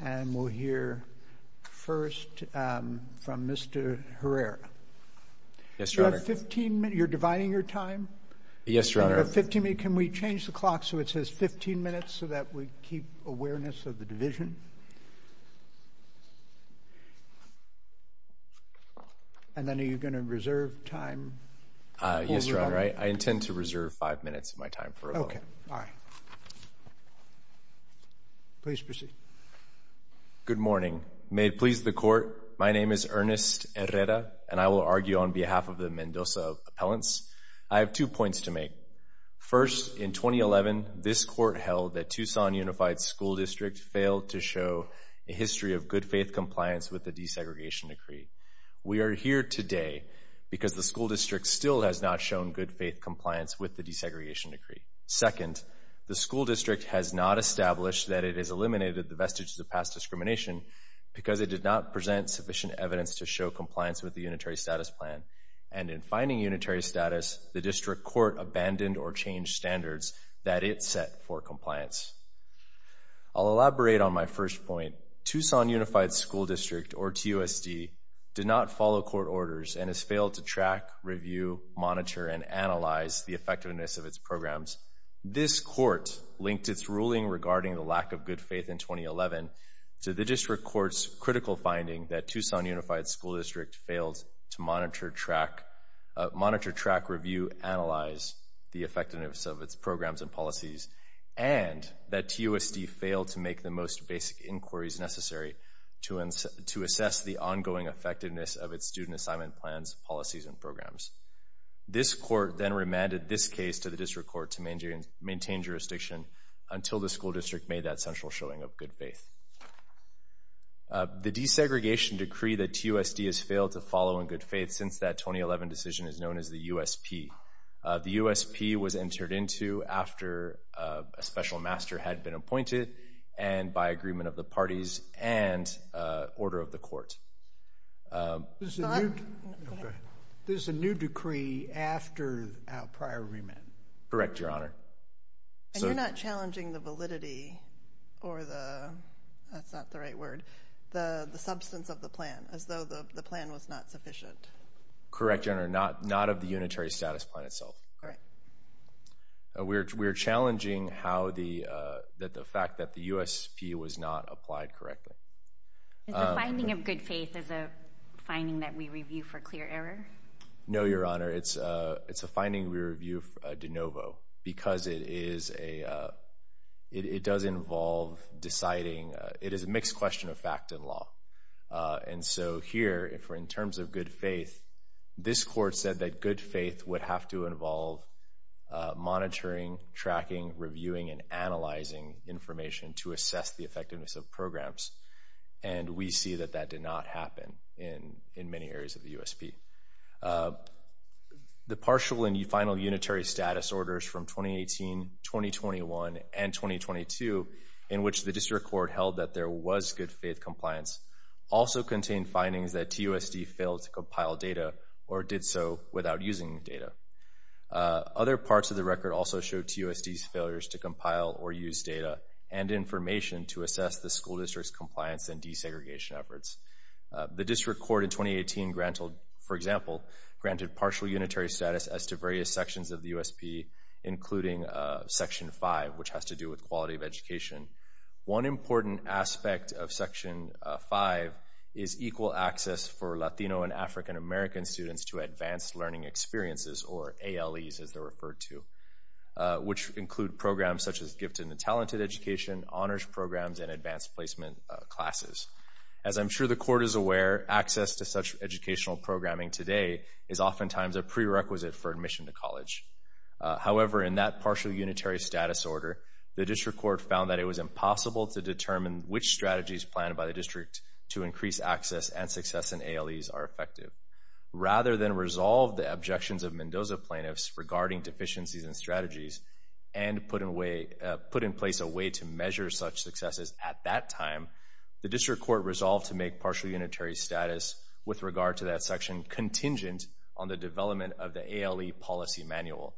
And we'll hear first from Mr. Herrera. Yes, Your Honor. You have 15 minutes. You're dividing your time? Yes, Your Honor. You have 15 minutes. Can we change the clock so it says 15 minutes so that we keep awareness of the division? And then are you going to reserve time? Yes, Your Honor. I intend to reserve five minutes of my time. Okay. All right. Please proceed. Good morning. May it please the Court, my name is Ernest Herrera, and I will argue on behalf of the Mendoza appellants. I have two points to make. First, in 2011, this Court held that Tucson Unified School District failed to show a history of good faith compliance with the desegregation decree. We are here today because the school district still has not shown good faith compliance with the desegregation decree. Second, the school district has not established that it has eliminated the vestiges of past discrimination because it did not present sufficient evidence to show compliance with the unitary status plan. And in finding unitary status, the district court abandoned or changed standards that it set for compliance. I'll elaborate on my first point. Tucson Unified School District, or TUSD, did not follow court orders and has failed to track, review, monitor, and analyze the effectiveness of its programs. This court linked its ruling regarding the lack of good faith in 2011 to the district court's critical finding that Tucson Unified School District failed to monitor, track, review, analyze the effectiveness of its programs and policies and that TUSD failed to make the most basic inquiries necessary to assess the ongoing effectiveness of its student assignment plans, policies, and programs. This court then remanded this case to the district court to maintain jurisdiction until the school district made that central showing of good faith. The desegregation decree that TUSD has failed to follow in good faith since that 2011 decision is known as the USP. The USP was entered into after a special master had been appointed and by agreement of the parties and order of the court. This is a new decree after our prior remand. Correct, Your Honor. And you're not challenging the validity or the, that's not the right word, the substance of the plan, as though the plan was not sufficient. Correct, Your Honor, not of the unitary status plan itself. All right. We're challenging how the, that the fact that the USP was not applied correctly. Is the finding of good faith as a finding that we review for clear error? No, Your Honor. It's a finding we review de novo because it is a, it does involve deciding, it is a mixed question of fact and law. And so here, if we're in terms of good faith, this court said that good faith would have to involve monitoring, tracking, reviewing, and analyzing information to assess the effectiveness of programs. And we see that that did not happen in many areas of the USP. The partial and final unitary status orders from 2018, 2021, and 2022, in which the district court held that there was good faith compliance, also contained findings that TUSD failed to compile data or did so without using data. Other parts of the record also show TUSD's failures to compile or use data and information to assess the school district's compliance and desegregation efforts. The district court in 2018 granted, for example, granted partial unitary status as to various sections of the USP, including Section 5, which has to do with quality of education. One important aspect of Section 5 is equal access for Latino and African American students to advanced learning experiences, or ALEs as they're referred to. Which include programs such as gifted and talented education, honors programs, and advanced placement classes. As I'm sure the court is aware, access to such educational programming today is oftentimes a prerequisite for admission to college. However, in that partial unitary status order, the district court found that it was impossible to determine which strategies planned by the district to increase access and success in ALEs are effective. Rather than resolve the objections of Mendoza plaintiffs regarding deficiencies in strategies and put in place a way to measure such successes at that time, the district court resolved to make partial unitary status with regard to that section contingent on the development of the ALE policy manual.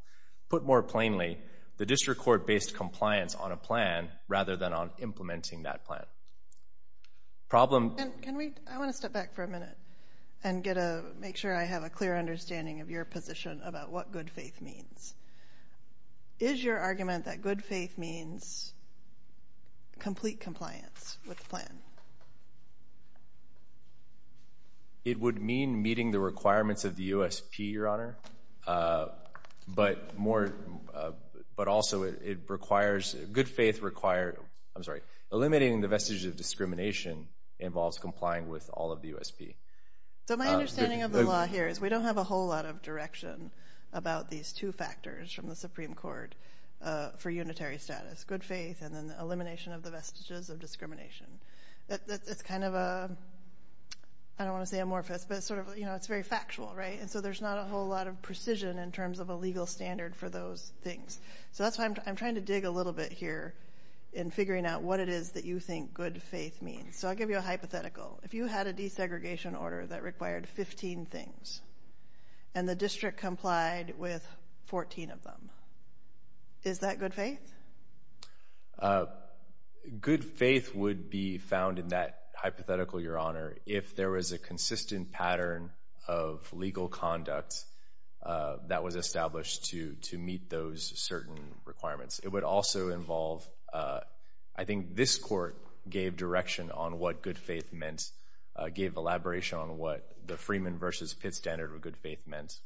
Put more plainly, the district court based compliance on a plan rather than on implementing that plan. Problem... I want to step back for a minute and make sure I have a clear understanding of your position about what good faith means. Is your argument that good faith means complete compliance with the plan? It would mean meeting the requirements of the USP, Your Honor. But also, it requires... Good faith requires... I'm sorry. Eliminating the vestiges of discrimination involves complying with all of the USP. So my understanding of the law here is we don't have a whole lot of direction about these two factors from the Supreme Court for unitary status, good faith and then the elimination of the vestiges of discrimination. It's kind of a... I don't want to say amorphous, but it's very factual, right? And so there's not a whole lot of precision in terms of a legal standard for those things. So that's why I'm trying to dig a little bit here in figuring out what it is that you think good faith means. So I'll give you a hypothetical. If you had a desegregation order that required 15 things and the district complied with 14 of them, is that good faith? Good faith would be found in that hypothetical, Your Honor, if there was a consistent pattern of legal conduct that was established to meet those certain requirements. It would also involve... I think this court gave direction on what good faith meant, gave elaboration on what the Freeman versus Pitt standard of good faith meant,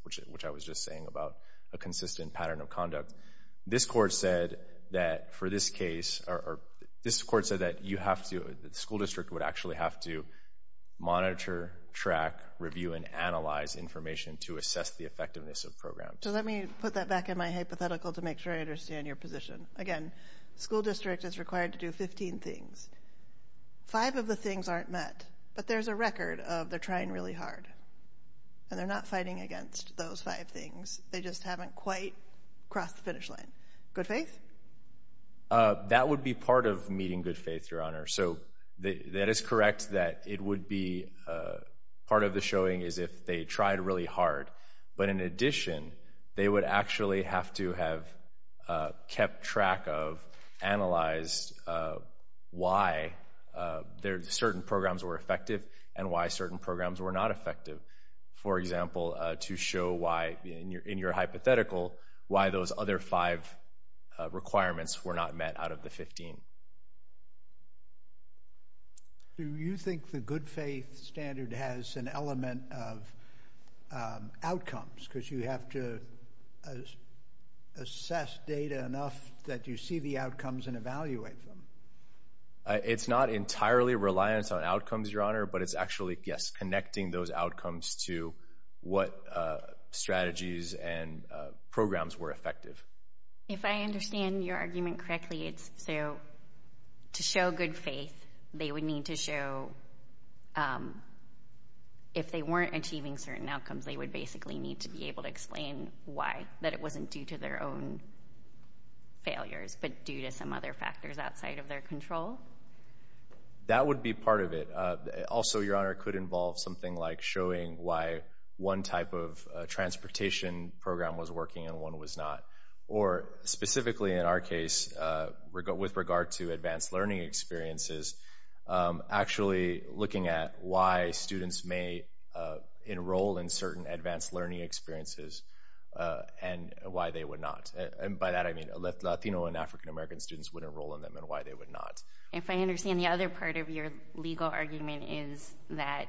this court said that for this case... this court said that you have to... the school district would actually have to monitor, track, review and analyze information to assess the effectiveness of the program. So let me put that back in my hypothetical to make sure I understand your position. Again, school district is required to do 15 things. Five of the things aren't met, but there's a record of they're trying really hard and they're not fighting against those five things. They just haven't quite crossed the finish line. Good faith? That would be part of meeting good faith, Your Honor. So that is correct that it would be part of the showing is if they tried really hard. But in addition, they would actually have to have kept track of, analyzed why certain programs were effective and why certain programs were not effective. For example, to show why, in your hypothetical, why those other five requirements were not met out of the 15. Do you think the good faith standard has an element of outcomes because you have to assess data enough that you see the outcomes and evaluate them? It's not entirely reliant on outcomes, Your Honor, but it's actually, yes, using those outcomes to what strategies and programs were effective. If I understand your argument correctly, it's to show good faith. They would need to show if they weren't achieving certain outcomes, they would basically need to be able to explain why, that it wasn't due to their own failures but due to some other factors outside of their control? That would be part of it. Also, Your Honor, it could involve something like showing why one type of transportation program was working and one was not. Or specifically in our case, with regard to advanced learning experiences, actually looking at why students may enroll in certain advanced learning experiences and why they would not. And by that I mean Latino and African American students would enroll in them and why they would not. If I understand, the other part of your legal argument is that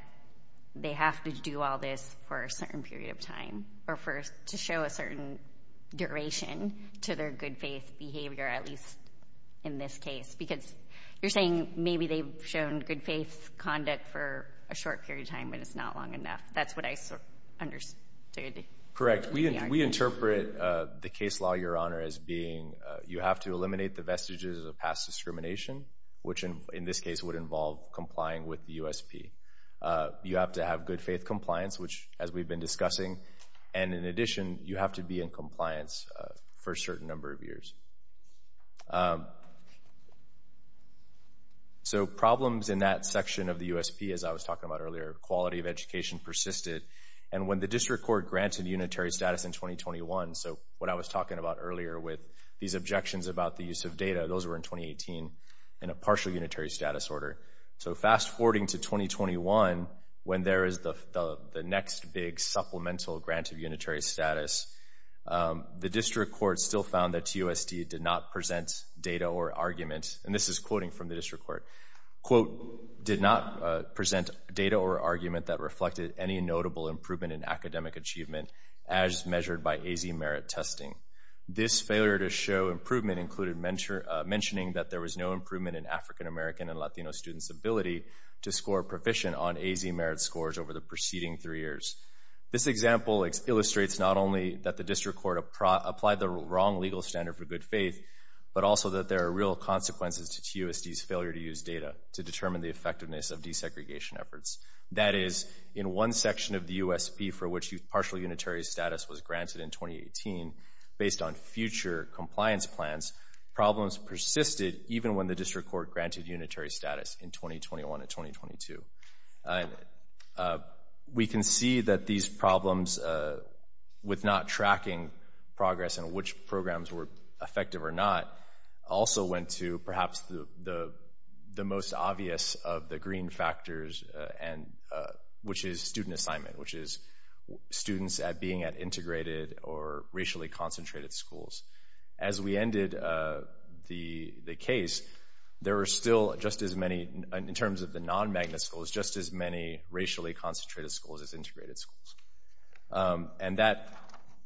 they have to do all this for a certain period of time or to show a certain duration to their good faith behavior, at least in this case. Because you're saying maybe they've shown good faith conduct for a short period of time but it's not long enough. That's what I understood. Correct. We interpret the case law, Your Honor, as being you have to eliminate the vestiges of past discrimination, which in this case would involve complying with the USP. You have to have good faith compliance, which as we've been discussing. And in addition, you have to be in compliance for a certain number of years. So problems in that section of the USP, as I was talking about earlier, quality of education persisted. And when the district court granted unitary status in 2021, so what I was talking about earlier with these objections about the use of data, those were in 2018 in a partial unitary status order. So fast forwarding to 2021 when there is the next big supplemental grant of unitary status, the district court still found that TUSD did not present data or argument, and this is quoting from the district court, quote, did not present data or argument that reflected any notable improvement in academic achievement as measured by AZ merit testing. This failure to show improvement included mentioning that there was no improvement in African American and Latino students' ability to score proficient on AZ merit scores over the preceding three years. This example illustrates not only that the district court applied the wrong legal standard for good faith, but also that there are real consequences to TUSD's failure to use data to determine the effectiveness of desegregation efforts. That is, in one section of the USP for which partial unitary status was granted in 2018, based on future compliance plans, problems persisted even when the district court granted unitary status in 2021 and 2022. We can see that these problems with not tracking progress and which programs were effective or not also went to perhaps the most obvious of the green factors, which is student assignment, which is students being at integrated or racially concentrated schools. As we ended the case, there were still just as many, in terms of the non-MAGNA schools, just as many racially concentrated schools as integrated schools. And that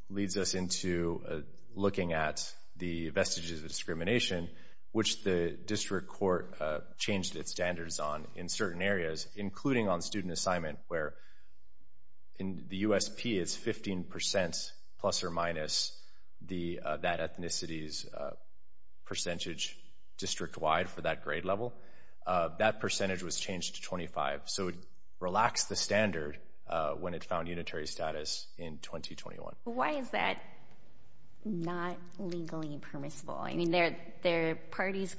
leads us into looking at the vestiges of discrimination, which the district court changed its standards on in certain areas, including on student assignment, where the USP is 15% plus or minus that ethnicity's percentage district-wide for that grade level. That percentage was changed to 25. So it relaxed the standard when it found unitary status in 2021. Why is that not legally permissible? I mean, their parties,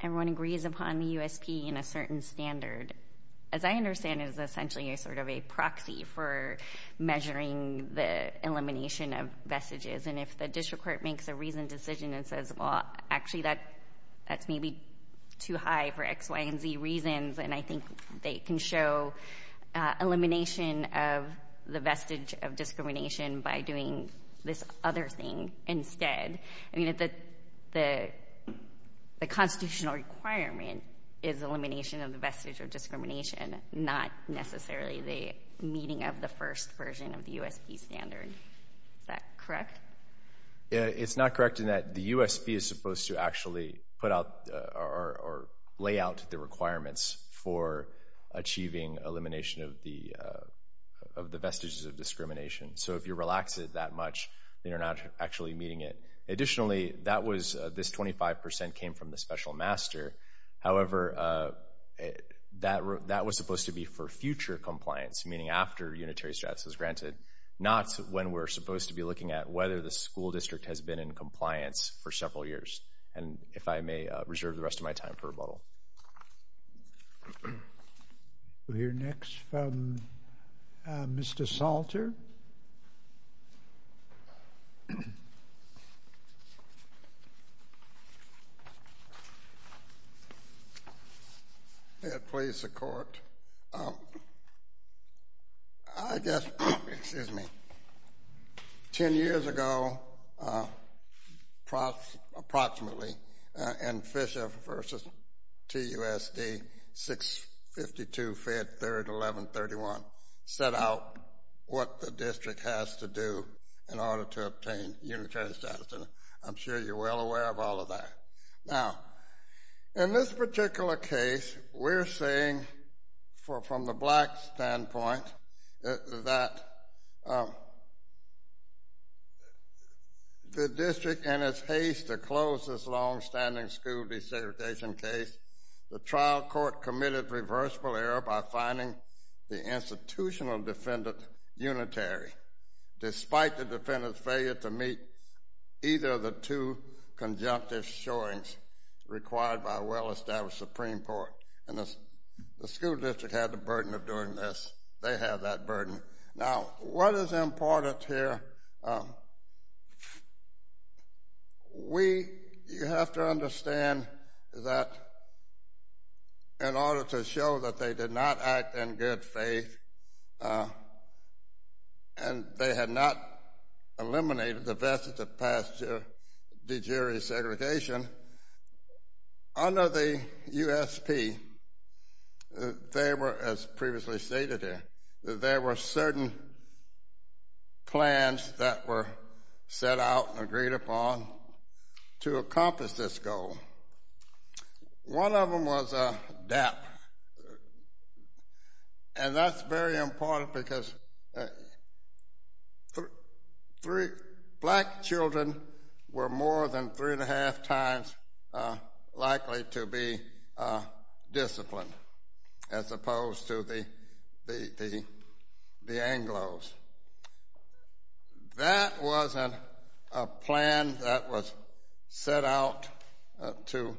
everyone agrees upon the USP in a certain standard, as I understand it, is essentially a sort of a proxy for measuring the elimination of vestiges. And if the district court makes a reasoned decision and says, well, actually that's maybe too high for X, Y, and Z reasons, and I think they can show elimination of the vestige of discrimination by doing this other thing instead. I mean, the constitutional requirement is elimination of the vestige of discrimination, not necessarily the meeting of the first version of the USP standard. Is that correct? Yeah, it's not correct in that the USP is supposed to actually put out or lay out the requirements for achieving elimination of the vestiges of discrimination. So if you relax it that much, then you're not actually meeting it. Additionally, this 25% came from the special master. However, that was supposed to be for future compliance, meaning after unitary status was granted, not when we're supposed to be looking at whether the school district has been in compliance for several years, and if I may reserve the rest of my time for rebuttal. Thank you. We'll hear next from Mr. Salter. I guess, excuse me. Ten years ago, approximately, in Fisher v. TUSD 652, Fed 3rd, 1131, set out what the district has to do in order to obtain unitary status, and I'm sure you're well aware of all of that. Now, in this particular case, we're saying from the black standpoint that the district, in its haste to close this longstanding school desegregation case, the trial court committed reversible error by finding the institutional defendant unitary, despite the defendant's failure to meet either of the two conjunctive showings required by a well-established Supreme Court, and the school district had the burden of doing this. They have that burden. Now, what is important here, you have to understand that in order to show that they did not act in good faith, and they had not eliminated the vestige of past de jure segregation, under the USP, they were, as previously stated here, that there were certain plans that were set out and agreed upon to accomplish this goal. One of them was DAP, and that's very important because black children were more than three and a half times likely to be disciplined, as opposed to the Anglos. That wasn't a plan that was set out to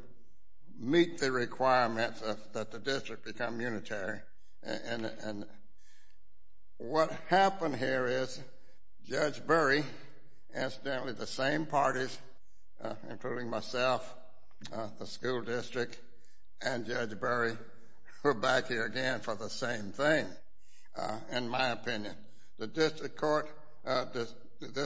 meet the requirements that the district become unitary, and what happened here is Judge Burry, incidentally the same parties, including myself, the school district, and Judge Burry were back here again for the same thing, in my opinion. The district court, this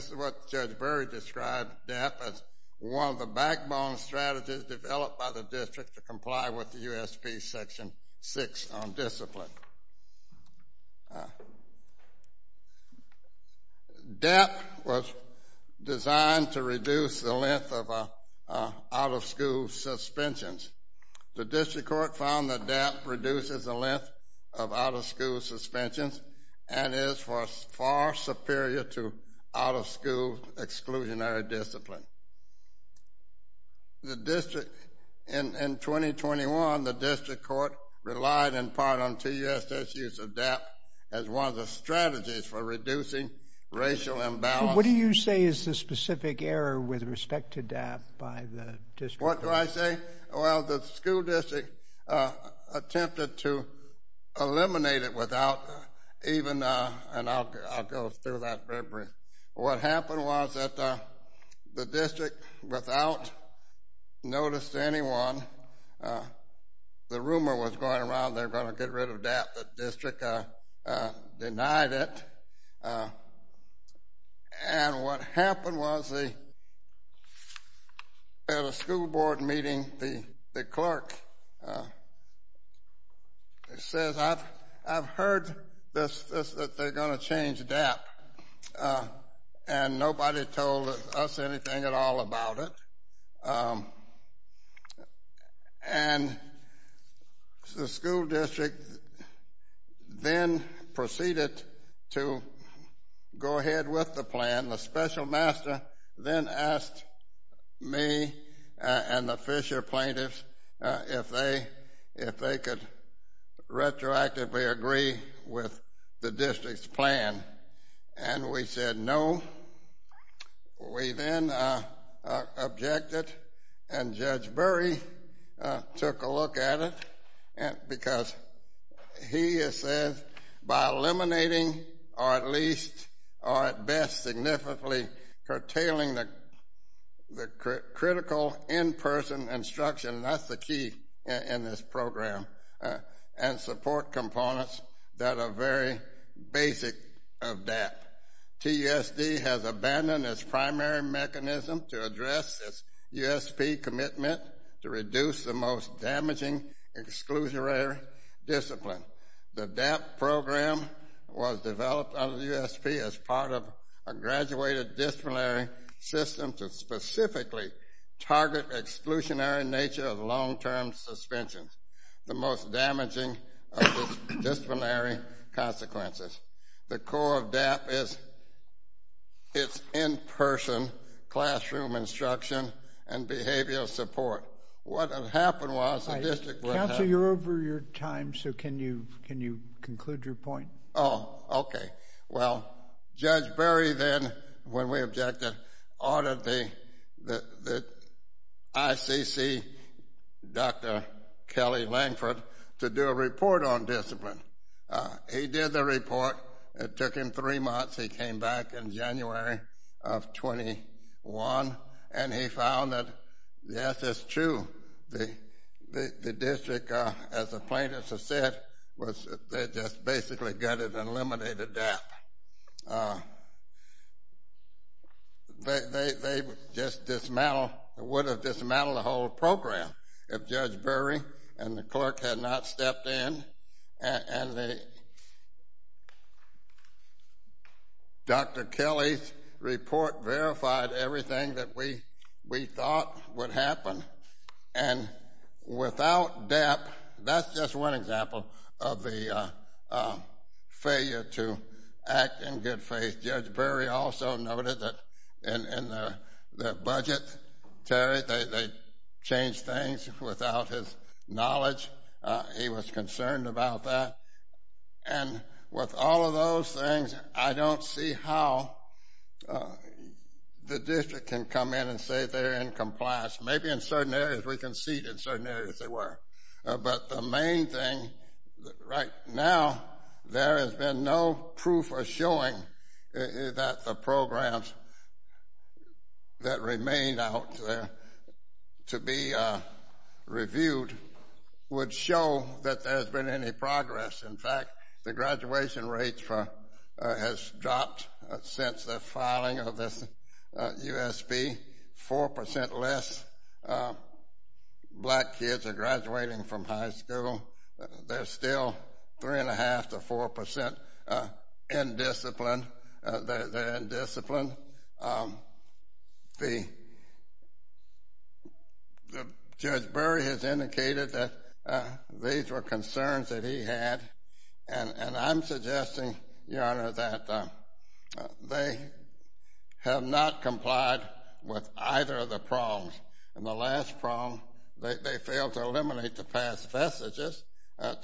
is what Judge Burry described DAP as one of the backbone strategies developed by the district to comply with the USP Section 6 on discipline. DAP was designed to reduce the length of out-of-school suspensions. The district court found that DAP reduces the length of out-of-school suspensions and is far superior to out-of-school exclusionary discipline. In 2021, the district court relied in part on TUSS use of DAP as one of the strategies for reducing racial imbalance. What do you say is the specific error with respect to DAP by the district court? What do I say? Well, the school district attempted to eliminate it without even, and I'll go through that very briefly. What happened was that the district, without notice to anyone, the rumor was going around they were going to get rid of DAP. The district denied it, and what happened was at a school board meeting, the clerk says, I've heard that they're going to change DAP, and nobody told us anything at all about it. And the school district then proceeded to go ahead with the plan. The special master then asked me and the Fisher plaintiffs if they could retroactively agree with the district's plan, and we said no. We then objected, and Judge Burry took a look at it, because he says by eliminating, or at least, or at best, significantly curtailing the critical in-person instruction, that's the key in this program, TUSD has abandoned its primary mechanism to address its USP commitment to reduce the most damaging exclusionary discipline. The DAP program was developed under the USP as part of a graduated disciplinary system to specifically target exclusionary nature of long-term suspensions, the most damaging of disciplinary consequences. The core of DAP is its in-person classroom instruction and behavioral support. What had happened was the district would have... Counsel, you're over your time, so can you conclude your point? Oh, okay. Well, Judge Burry then, when we objected, ordered the ICC, Dr. Kelly Langford, to do a report on discipline. He did the report. It took him three months. He came back in January of 21, and he found that, yes, it's true, the district, as the plaintiffs have said, they just basically gutted and eliminated DAP. They just dismantled, would have dismantled the whole program if Judge Burry and the clerk had not stepped in. And Dr. Kelly's report verified everything that we thought would happen. And without DAP, that's just one example of the failure to act in good faith. Judge Burry also noted that in their budget, Terry, they changed things without his knowledge. He was concerned about that. And with all of those things, I don't see how the district can come in and say they're in compliance. Maybe in certain areas we conceded, certain areas they were. But the main thing right now, there has been no proof or showing that the programs that remain out there to be reviewed would show that there's been any progress. In fact, the graduation rate has dropped since the filing of this U.S.B. Four percent less black kids are graduating from high school. They're still three-and-a-half to four percent in discipline. They're in discipline. Judge Burry has indicated that these were concerns that he had. And I'm suggesting, Your Honor, that they have not complied with either of the problems. And the last problem, they failed to eliminate the past vestiges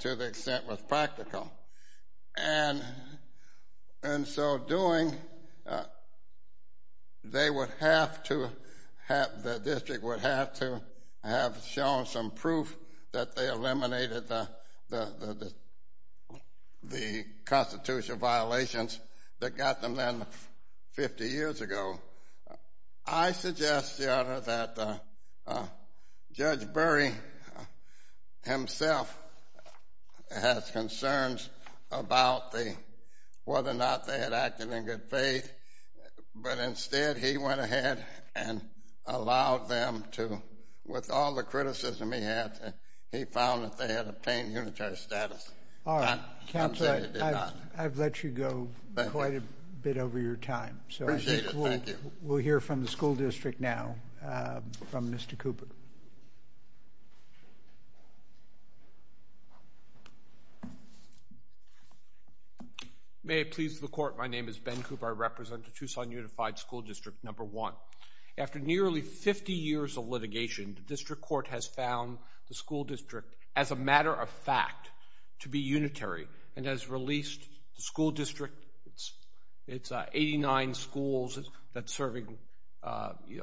to the extent was practical. And so doing, they would have to have, the district would have to have shown some proof that they eliminated the constitutional violations that got them there 50 years ago. I suggest, Your Honor, that Judge Burry himself has concerns about whether or not they had acted in good faith. But instead, he went ahead and allowed them to, with all the criticism he had, he found that they had obtained unitary status. All right. Counselor, I've let you go quite a bit over your time. Appreciate it. Thank you. We'll hear from the school district now from Mr. Cooper. May it please the Court, my name is Ben Cooper. I represent the Tucson Unified School District No. 1. After nearly 50 years of litigation, the district court has found the school district, as a matter of fact, to be unitary and has released the school district, its 89 schools that's serving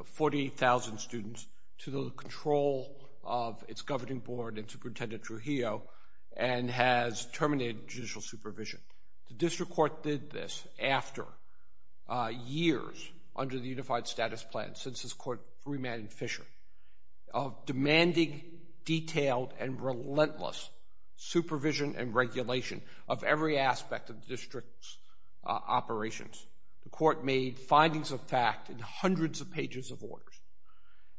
40,000 students, to the control of its governing board and Superintendent Trujillo and has terminated judicial supervision. The district court did this after years under the unified status plan since this court remanded Fisher, of demanding detailed and relentless supervision and regulation of every aspect of the district's operations. The court made findings of fact in hundreds of pages of orders.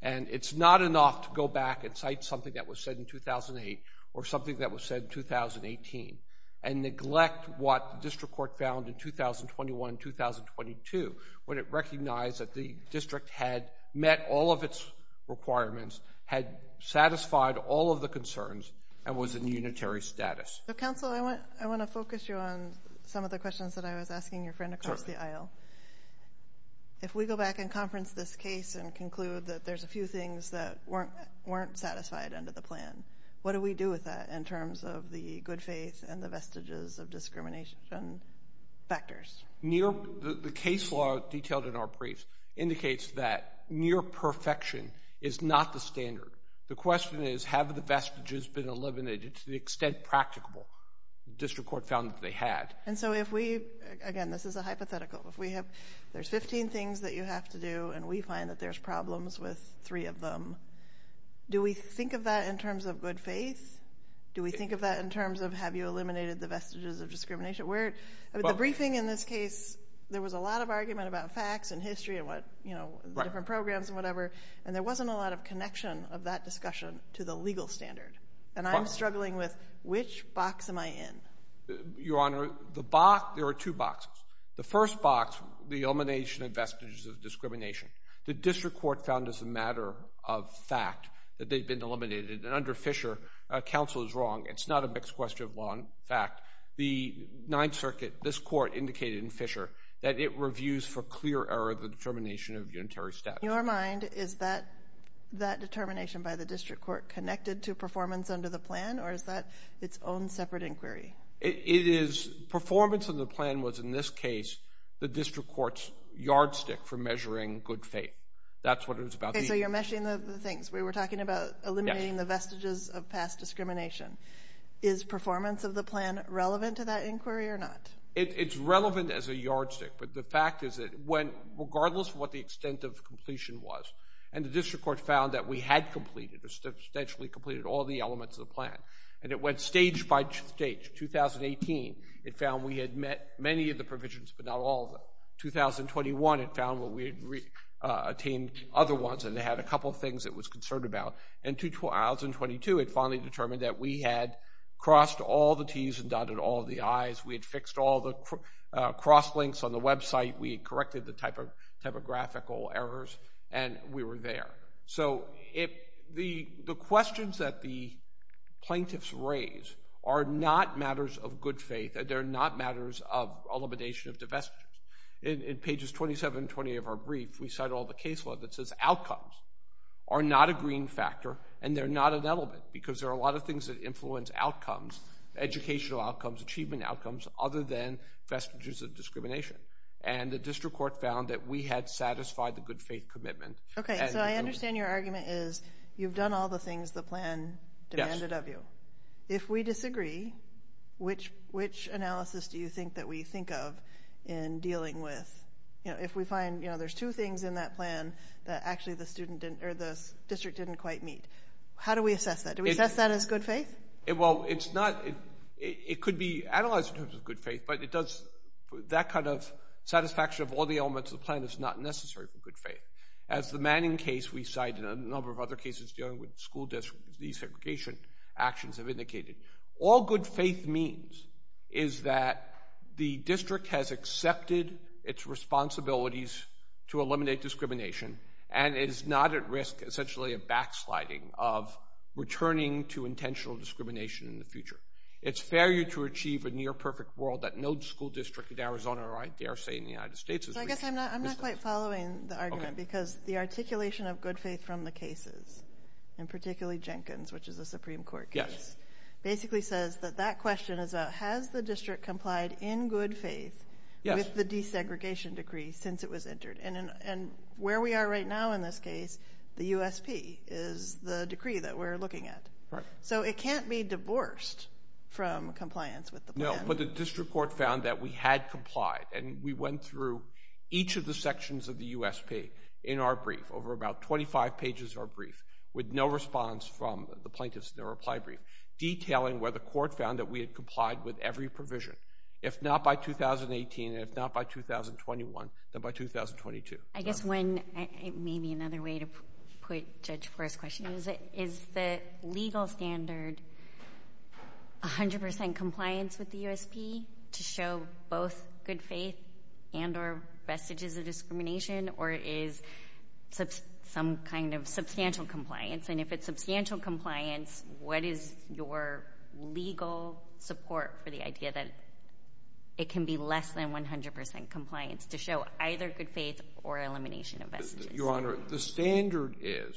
And it's not enough to go back and cite something that was said in 2008 or something that was said in 2018 and neglect what the district court found in 2021-2022 when it recognized that the district had met all of its requirements, had satisfied all of the concerns, and was in unitary status. Counsel, I want to focus you on some of the questions that I was asking your friend across the aisle. If we go back and conference this case and conclude that there's a few things that weren't satisfied under the plan, what do we do with that in terms of the good faith and the vestiges of discrimination factors? The case law detailed in our brief indicates that near perfection is not the standard. The question is, have the vestiges been eliminated to the extent practicable? The district court found that they had. And so if we, again, this is a hypothetical, if there's 15 things that you have to do and we find that there's problems with three of them, do we think of that in terms of good faith? Do we think of that in terms of have you eliminated the vestiges of discrimination? The briefing in this case, there was a lot of argument about facts and history and what, you know, the different programs and whatever, and there wasn't a lot of connection of that discussion to the legal standard. And I'm struggling with which box am I in. Your Honor, the box, there are two boxes. The first box, the elimination of vestiges of discrimination. The district court found as a matter of fact that they'd been eliminated. And under Fisher, counsel is wrong. It's not a mixed question of law and fact. The Ninth Circuit, this court, indicated in Fisher that it reviews for clear error the determination of unitary statute. Your mind, is that determination by the district court connected to performance under the plan, or is that its own separate inquiry? It is performance of the plan was, in this case, the district court's yardstick for measuring good faith. That's what it was about. Okay, so you're meshing the things. We were talking about eliminating the vestiges of past discrimination. Is performance of the plan relevant to that inquiry or not? It's relevant as a yardstick, but the fact is that regardless of what the extent of completion was, and the district court found that we had completed, substantially completed all the elements of the plan, and it went stage by stage. 2018, it found we had met many of the provisions, but not all of them. 2021, it found that we had attained other ones, and it had a couple of things it was concerned about. And 2022, it finally determined that we had crossed all the Ts and dotted all the Is. We had fixed all the cross-links on the website. We had corrected the typographical errors, and we were there. So the questions that the plaintiffs raise are not matters of good faith. They're not matters of elimination of the vestiges. In pages 27 and 28 of our brief, we cite all the case law that says outcomes are not a green factor, and they're not an element because there are a lot of things that influence outcomes, educational outcomes, achievement outcomes, other than vestiges of discrimination. And the district court found that we had satisfied the good faith commitment. Okay, so I understand your argument is you've done all the things the plan demanded of you. Yes. If we disagree, which analysis do you think that we think of in dealing with? If we find there's two things in that plan that actually the district didn't quite meet, how do we assess that? Do we assess that as good faith? Well, it could be analyzed in terms of good faith, but that kind of satisfaction of all the elements of the plan is not necessary for good faith. As the Manning case we cite and a number of other cases dealing with school desegregation actions have indicated, all good faith means is that the district has accepted its responsibilities to eliminate discrimination and is not at risk, essentially, of backsliding, of returning to intentional discrimination in the future. It's failure to achieve a near-perfect world that no school district in Arizona or I dare say in the United States has reached. I guess I'm not quite following the argument because the articulation of good faith from the cases, and particularly Jenkins, which is a Supreme Court case, basically says that that question is about has the district complied in good faith with the desegregation decree since it was entered. And where we are right now in this case, the USP is the decree that we're looking at. So it can't be divorced from compliance with the plan. But the district court found that we had complied, and we went through each of the sections of the USP in our brief, over about 25 pages of our brief, with no response from the plaintiffs in the reply brief, detailing where the court found that we had complied with every provision. If not by 2018 and if not by 2021, then by 2022. Is the legal standard 100% compliance with the USP to show both good faith and or vestiges of discrimination, or is some kind of substantial compliance? And if it's substantial compliance, what is your legal support for the idea that it can be less than 100% compliance to show either good faith or elimination of vestiges? Your Honor, the standard is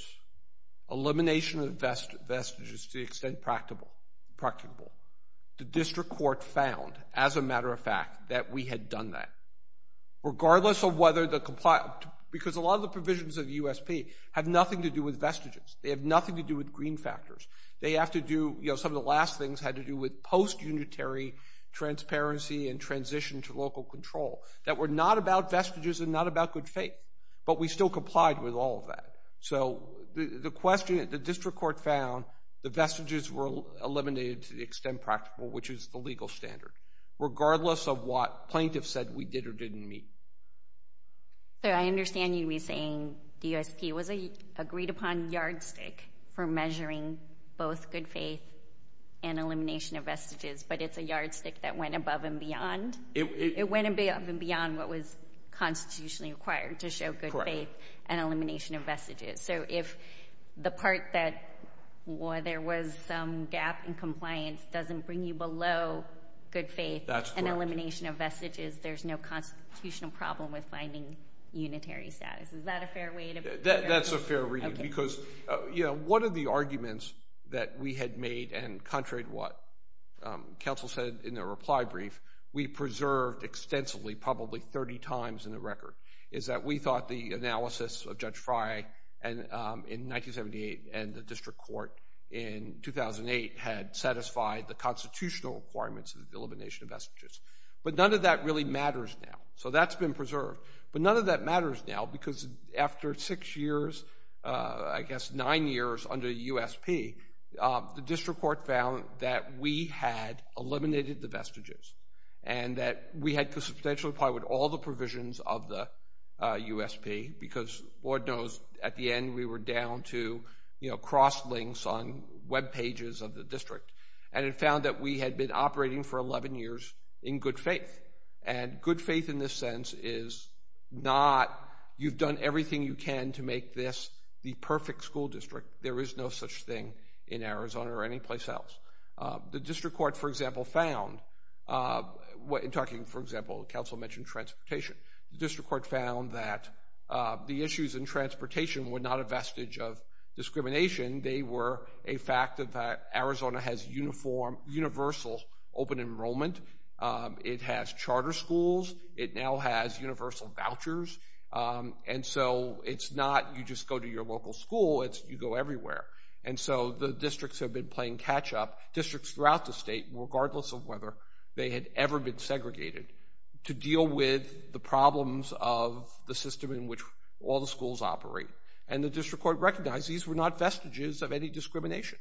elimination of vestiges to the extent practicable. The district court found, as a matter of fact, that we had done that. Regardless of whether the compliance— because a lot of the provisions of the USP have nothing to do with vestiges. They have nothing to do with green factors. Some of the last things had to do with post-unitary transparency and transition to local control that were not about vestiges and not about good faith. But we still complied with all of that. So the question that the district court found, the vestiges were eliminated to the extent practical, which is the legal standard, regardless of what plaintiffs said we did or didn't meet. Sir, I understand you saying the USP was an agreed-upon yardstick for measuring both good faith and elimination of vestiges, but it's a yardstick that went above and beyond. It went above and beyond what was constitutionally required to show good faith and elimination of vestiges. So if the part that there was some gap in compliance doesn't bring you below good faith and elimination of vestiges, there's no constitutional problem with finding unitary status. Is that a fair way to put it? That's a fair reading. Because one of the arguments that we had made, and contrary to what counsel said in their reply brief, we preserved extensively, probably 30 times in the record, is that we thought the analysis of Judge Frye in 1978 and the district court in 2008 had satisfied the constitutional requirements of the elimination of vestiges. But none of that really matters now. So that's been preserved. But none of that matters now because after six years, I guess nine years under USP, the district court found that we had eliminated the vestiges and that we had to substantially apply with all the provisions of the USP because Lord knows at the end we were down to, you know, cross-links on web pages of the district. And it found that we had been operating for 11 years in good faith. And good faith in this sense is not you've done everything you can to make this the perfect school district. There is no such thing in Arizona or any place else. The district court, for example, found... In talking, for example, counsel mentioned transportation. The district court found that the issues in transportation were not a vestige of discrimination. They were a fact that Arizona has universal open enrollment. It has charter schools. It now has universal vouchers. And so it's not you just go to your local school. It's you go everywhere. And so the districts have been playing catch-up, districts throughout the state, regardless of whether they had ever been segregated, to deal with the problems of the system in which all the schools operate. And the district court recognized these were not vestiges of any discrimination.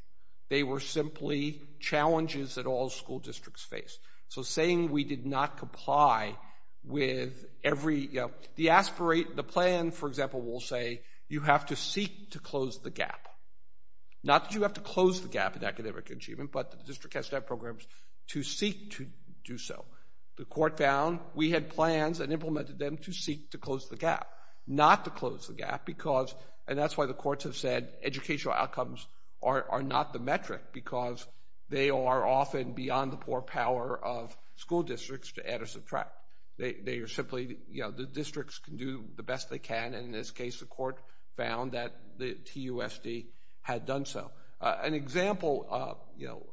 They were simply challenges that all school districts face. So saying we did not comply with every... The aspirate, the plan, for example, will say you have to seek to close the gap. Not that you have to close the gap in academic achievement, but the district has to have programs to seek to do so. The court found we had plans and implemented them to seek to close the gap, not to close the gap because... And that's why the courts have said educational outcomes are not the metric because they are often beyond the poor power of school districts to add or subtract. They are simply, you know, the districts can do the best they can, and in this case, the court found that the TUSD had done so. An example, you know,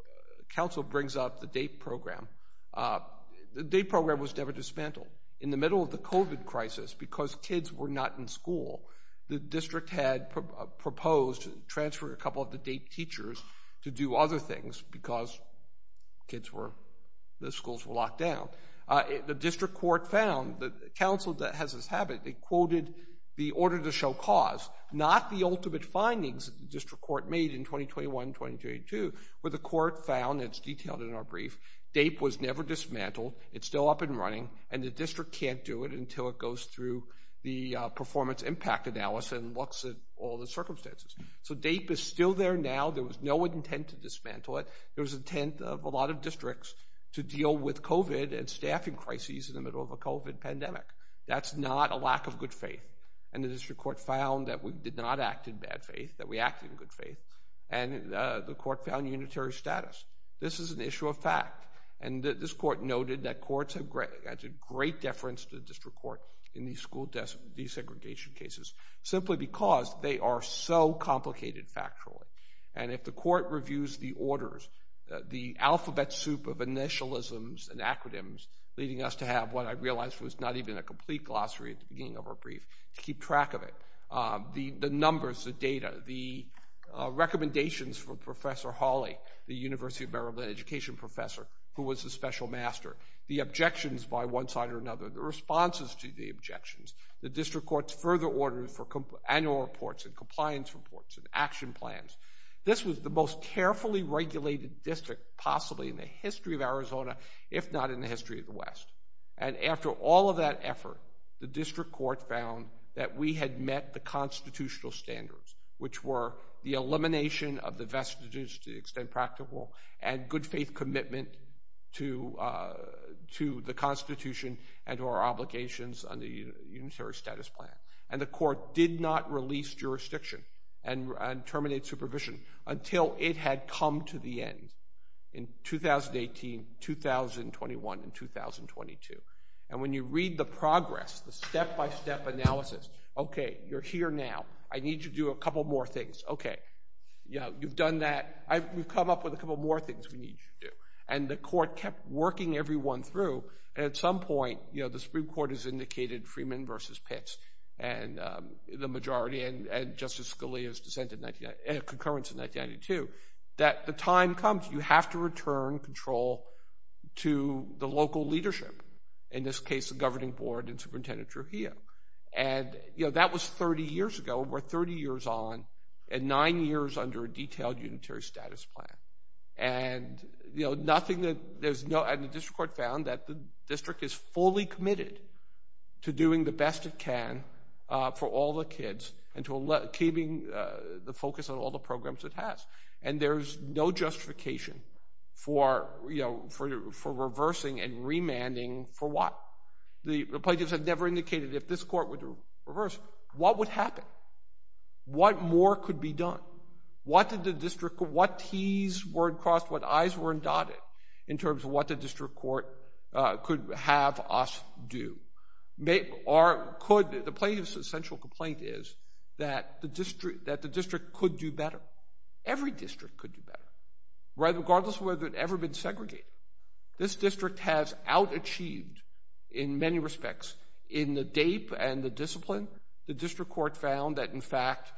council brings up the DAPE program. The DAPE program was never dismantled. In the middle of the COVID crisis, because kids were not in school, the district had proposed transferring a couple of the DAPE teachers to do other things because kids were... The schools were locked down. The district court found, the council that has this habit, they quoted the order to show cause, not the ultimate findings that the district court made in 2021, 2022, where the court found, it's detailed in our brief, DAPE was never dismantled, it's still up and running, and the district can't do it until it goes through the performance impact analysis and looks at all the circumstances. So DAPE is still there now. There was no intent to dismantle it. There was intent of a lot of districts to deal with COVID and staffing crises in the middle of a COVID pandemic. That's not a lack of good faith, and the district court found that we did not act in bad faith, that we acted in good faith, and the court found unitary status. This is an issue of fact, and this court noted that courts have... That's a great deference to the district court in these school desegregation cases simply because they are so complicated factually, and if the court reviews the orders, the alphabet soup of initialisms and acronyms leading us to have what I realized was not even a complete glossary at the beginning of our brief to keep track of it. The numbers, the data, the recommendations from Professor Hawley, the University of Maryland education professor who was a special master, the objections by one side or another, the responses to the objections. The district courts further ordered for annual reports and compliance reports and action plans. This was the most carefully regulated district possibly in the history of Arizona, if not in the history of the West. And after all of that effort, the district court found that we had met the constitutional standards, which were the elimination of the vestiges, to the extent practical, and good faith commitment to the Constitution and to our obligations under the unitary status plan. And the court did not release jurisdiction and terminate supervision until it had come to the end. In 2018, 2021, and 2022. And when you read the progress, the step-by-step analysis, okay, you're here now. I need you to do a couple more things. Okay, you know, you've done that. We've come up with a couple more things we need you to do. And the court kept working everyone through, and at some point, you know, the Supreme Court has indicated Freeman v. Pitts and the majority, and Justice Scalia's dissent in 19... concurrence in 1992, that the time comes. You have to return control to the local leadership. In this case, the governing board and Superintendent Trujillo. And, you know, that was 30 years ago. We're 30 years on and nine years under a detailed unitary status plan. And, you know, nothing that... And the district court found that the district is fully committed to doing the best it can for all the kids and to keeping the focus on all the programs it has. And there's no justification for, you know, for reversing and remanding for what? The plaintiffs have never indicated if this court would reverse, what would happen? What more could be done? What did the district... What T's were crossed, what I's were dotted in terms of what the district court could have us do? Or could... The plaintiff's essential complaint is that the district could do better. Every district could do better, regardless of whether it had ever been segregated. This district has out-achieved in many respects in the DAPE and the discipline. The district court found that, in fact,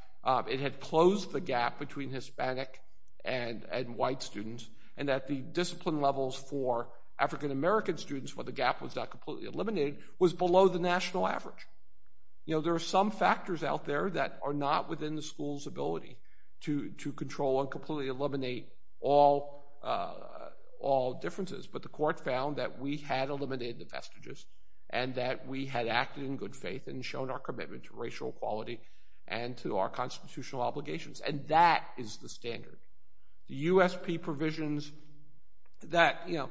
it had closed the gap between Hispanic and white students and that the discipline levels for African-American students, where the gap was not completely eliminated, was below the national average. You know, there are some factors out there that are not within the school's ability to control and completely eliminate all differences. But the court found that we had eliminated the vestiges and that we had acted in good faith and shown our commitment to racial equality and to our constitutional obligations. And that is the standard. The USP provisions that, you know...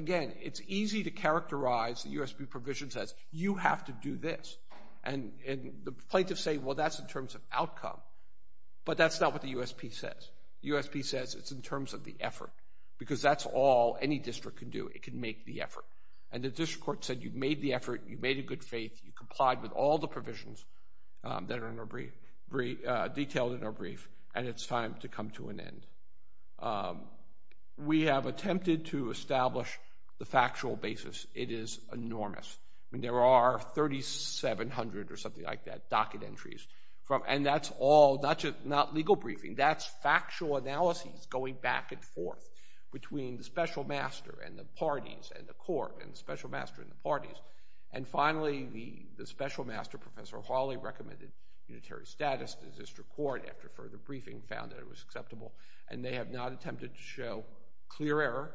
It's easy to characterize the USP provisions as, you have to do this. And the plaintiffs say, well, that's in terms of outcome. But that's not what the USP says. The USP says it's in terms of the effort, because that's all any district can do. It can make the effort. And the district court said, you've made the effort, you've made it in good faith, you've complied with all the provisions that are detailed in our brief, and it's time to come to an end. We have attempted to establish the factual basis. It is enormous. I mean, there are 3,700 or something like that, docket entries, and that's all... Not legal briefing, that's factual analyses going back and forth between the special master and the parties and the court and the special master and the parties. And finally, the special master, Professor Hawley, recommended unitary status to the district court after further briefing found that it was acceptable, and they have not attempted to show clear error,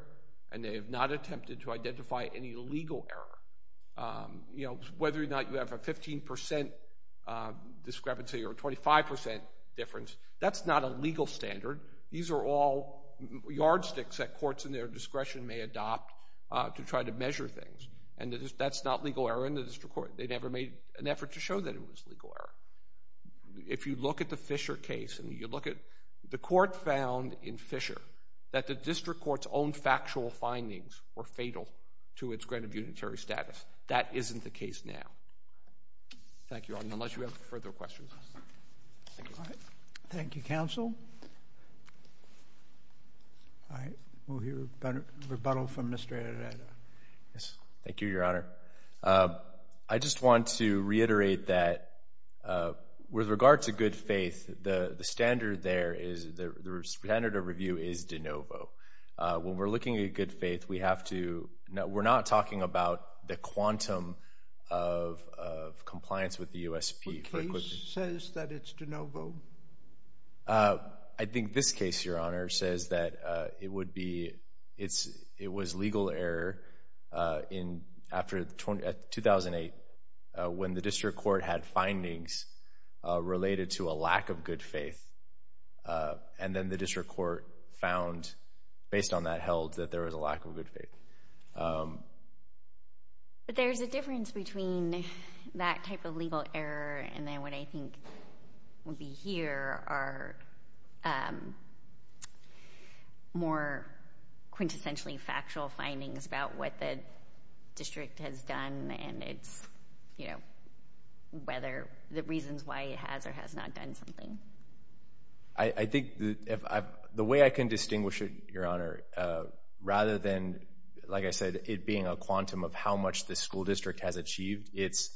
and they have not attempted to identify any legal error. You know, whether or not you have a 15% discrepancy or a 25% difference, that's not a legal standard. These are all yardsticks that courts in their discretion may adopt to try to measure things. And that's not legal error in the district court. They never made an effort to show that it was legal error. If you look at the Fisher case and you look at... The court found in Fisher that the district court's own factual findings were fatal to its grant of unitary status. That isn't the case now. Thank you, Your Honor, unless you have further questions. Thank you. Thank you, counsel. All right, we'll hear rebuttal from Mr. Arreda. Yes. Thank you, Your Honor. I just want to reiterate that with regard to good faith, the standard there is... The standard of review is de novo. When we're looking at good faith, we have to... We're not talking about the quantum of compliance with the USP. Which case says that it's de novo? I think this case, Your Honor, says that it would be... After 2008, when the district court had findings related to a lack of good faith, and then the district court found, based on that held, that there was a lack of good faith. But there's a difference between that type of legal error and then what I think would be here are more quintessentially factual findings about what the district has done and the reasons why it has or has not done something. I think the way I can distinguish it, Your Honor, rather than, like I said, it being a quantum of how much the school district has achieved, it's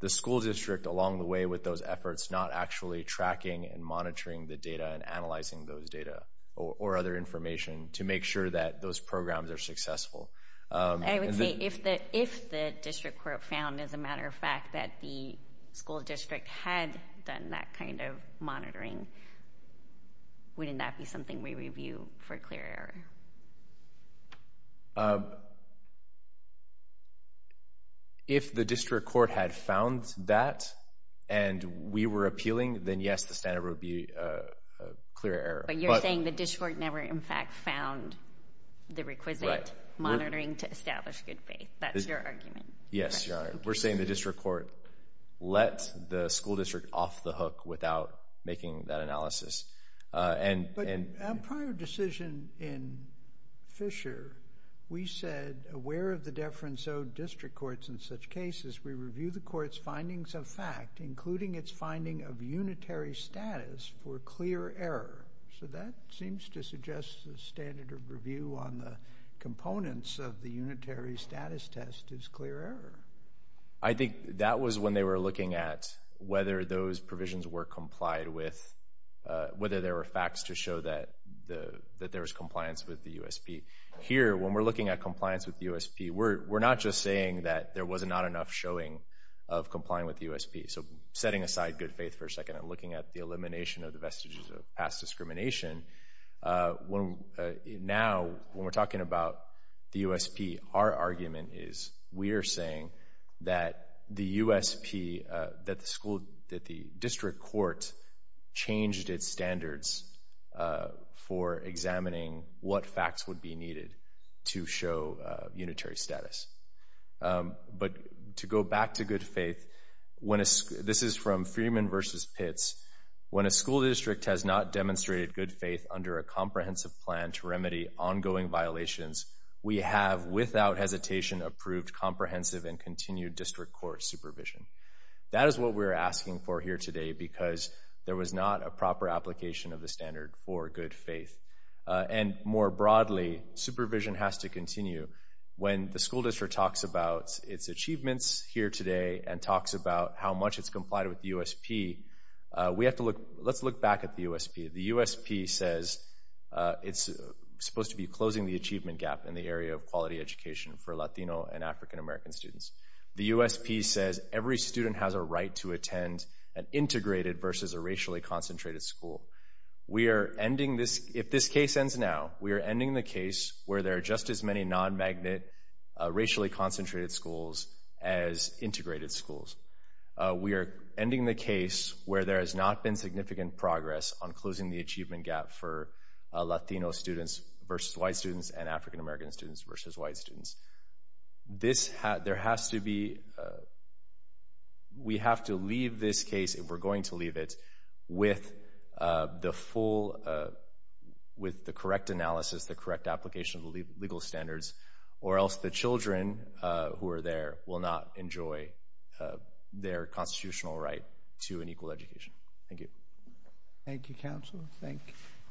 the school district along the way with those efforts not actually tracking and monitoring the data and analyzing those data or other information to make sure that those programs are successful. I would say if the district court found, as a matter of fact, that the school district had done that kind of monitoring, wouldn't that be something we review for clear error? If the district court had found that and we were appealing, then yes, the standard would be clear error. But you're saying the district never, in fact, found the requisite monitoring to establish good faith. That's your argument. Yes, Your Honor. We're saying the district court let the school district off the hook without making that analysis. But a prior decision in Fisher, we said, aware of the deference owed district courts in such cases, we review the court's findings of fact, including its finding of unitary status for clear error. So that seems to suggest the standard of review on the components of the unitary status test is clear error. I think that was when they were looking at whether those provisions were complied with, whether there were facts to show that there was compliance with the USP. Here, when we're looking at compliance with the USP, we're not just saying that there was not enough showing of complying with the USP. So setting aside good faith for a second and looking at the elimination of the vestiges of past discrimination, now when we're talking about the USP, our argument is we are saying that the USP, that the district court changed its standards for examining what facts would be needed to show unitary status. But to go back to good faith, this is from Freeman versus Pitts. When a school district has not demonstrated good faith under a comprehensive plan to remedy ongoing violations, we have without hesitation approved comprehensive and continued district court supervision. That is what we're asking for here today because there was not a proper application of the standard for good faith. And more broadly, supervision has to continue. When the school district talks about its achievements here today and talks about how much it's complied with the USP, let's look back at the USP. The USP says it's supposed to be closing the achievement gap in the area of quality education for Latino and African American students. The USP says every student has a right to attend an integrated versus a racially concentrated school. If this case ends now, we are ending the case where there are just as many non-magnet racially concentrated schools as integrated schools. We are ending the case where there has not been significant progress on closing the achievement gap for Latino students versus white students and African American students versus white students. There has to be... We have to leave this case, if we're going to leave it, with the full... with the correct analysis, the correct application of the legal standards, or else the children who are there will not enjoy their constitutional right to an equal education. Thank you. Thank you, counsel. Thank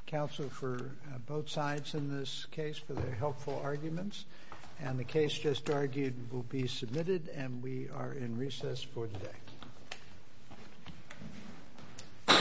counsel for both sides in this case for their helpful arguments. And the case just argued will be submitted, and we are in recess for the day.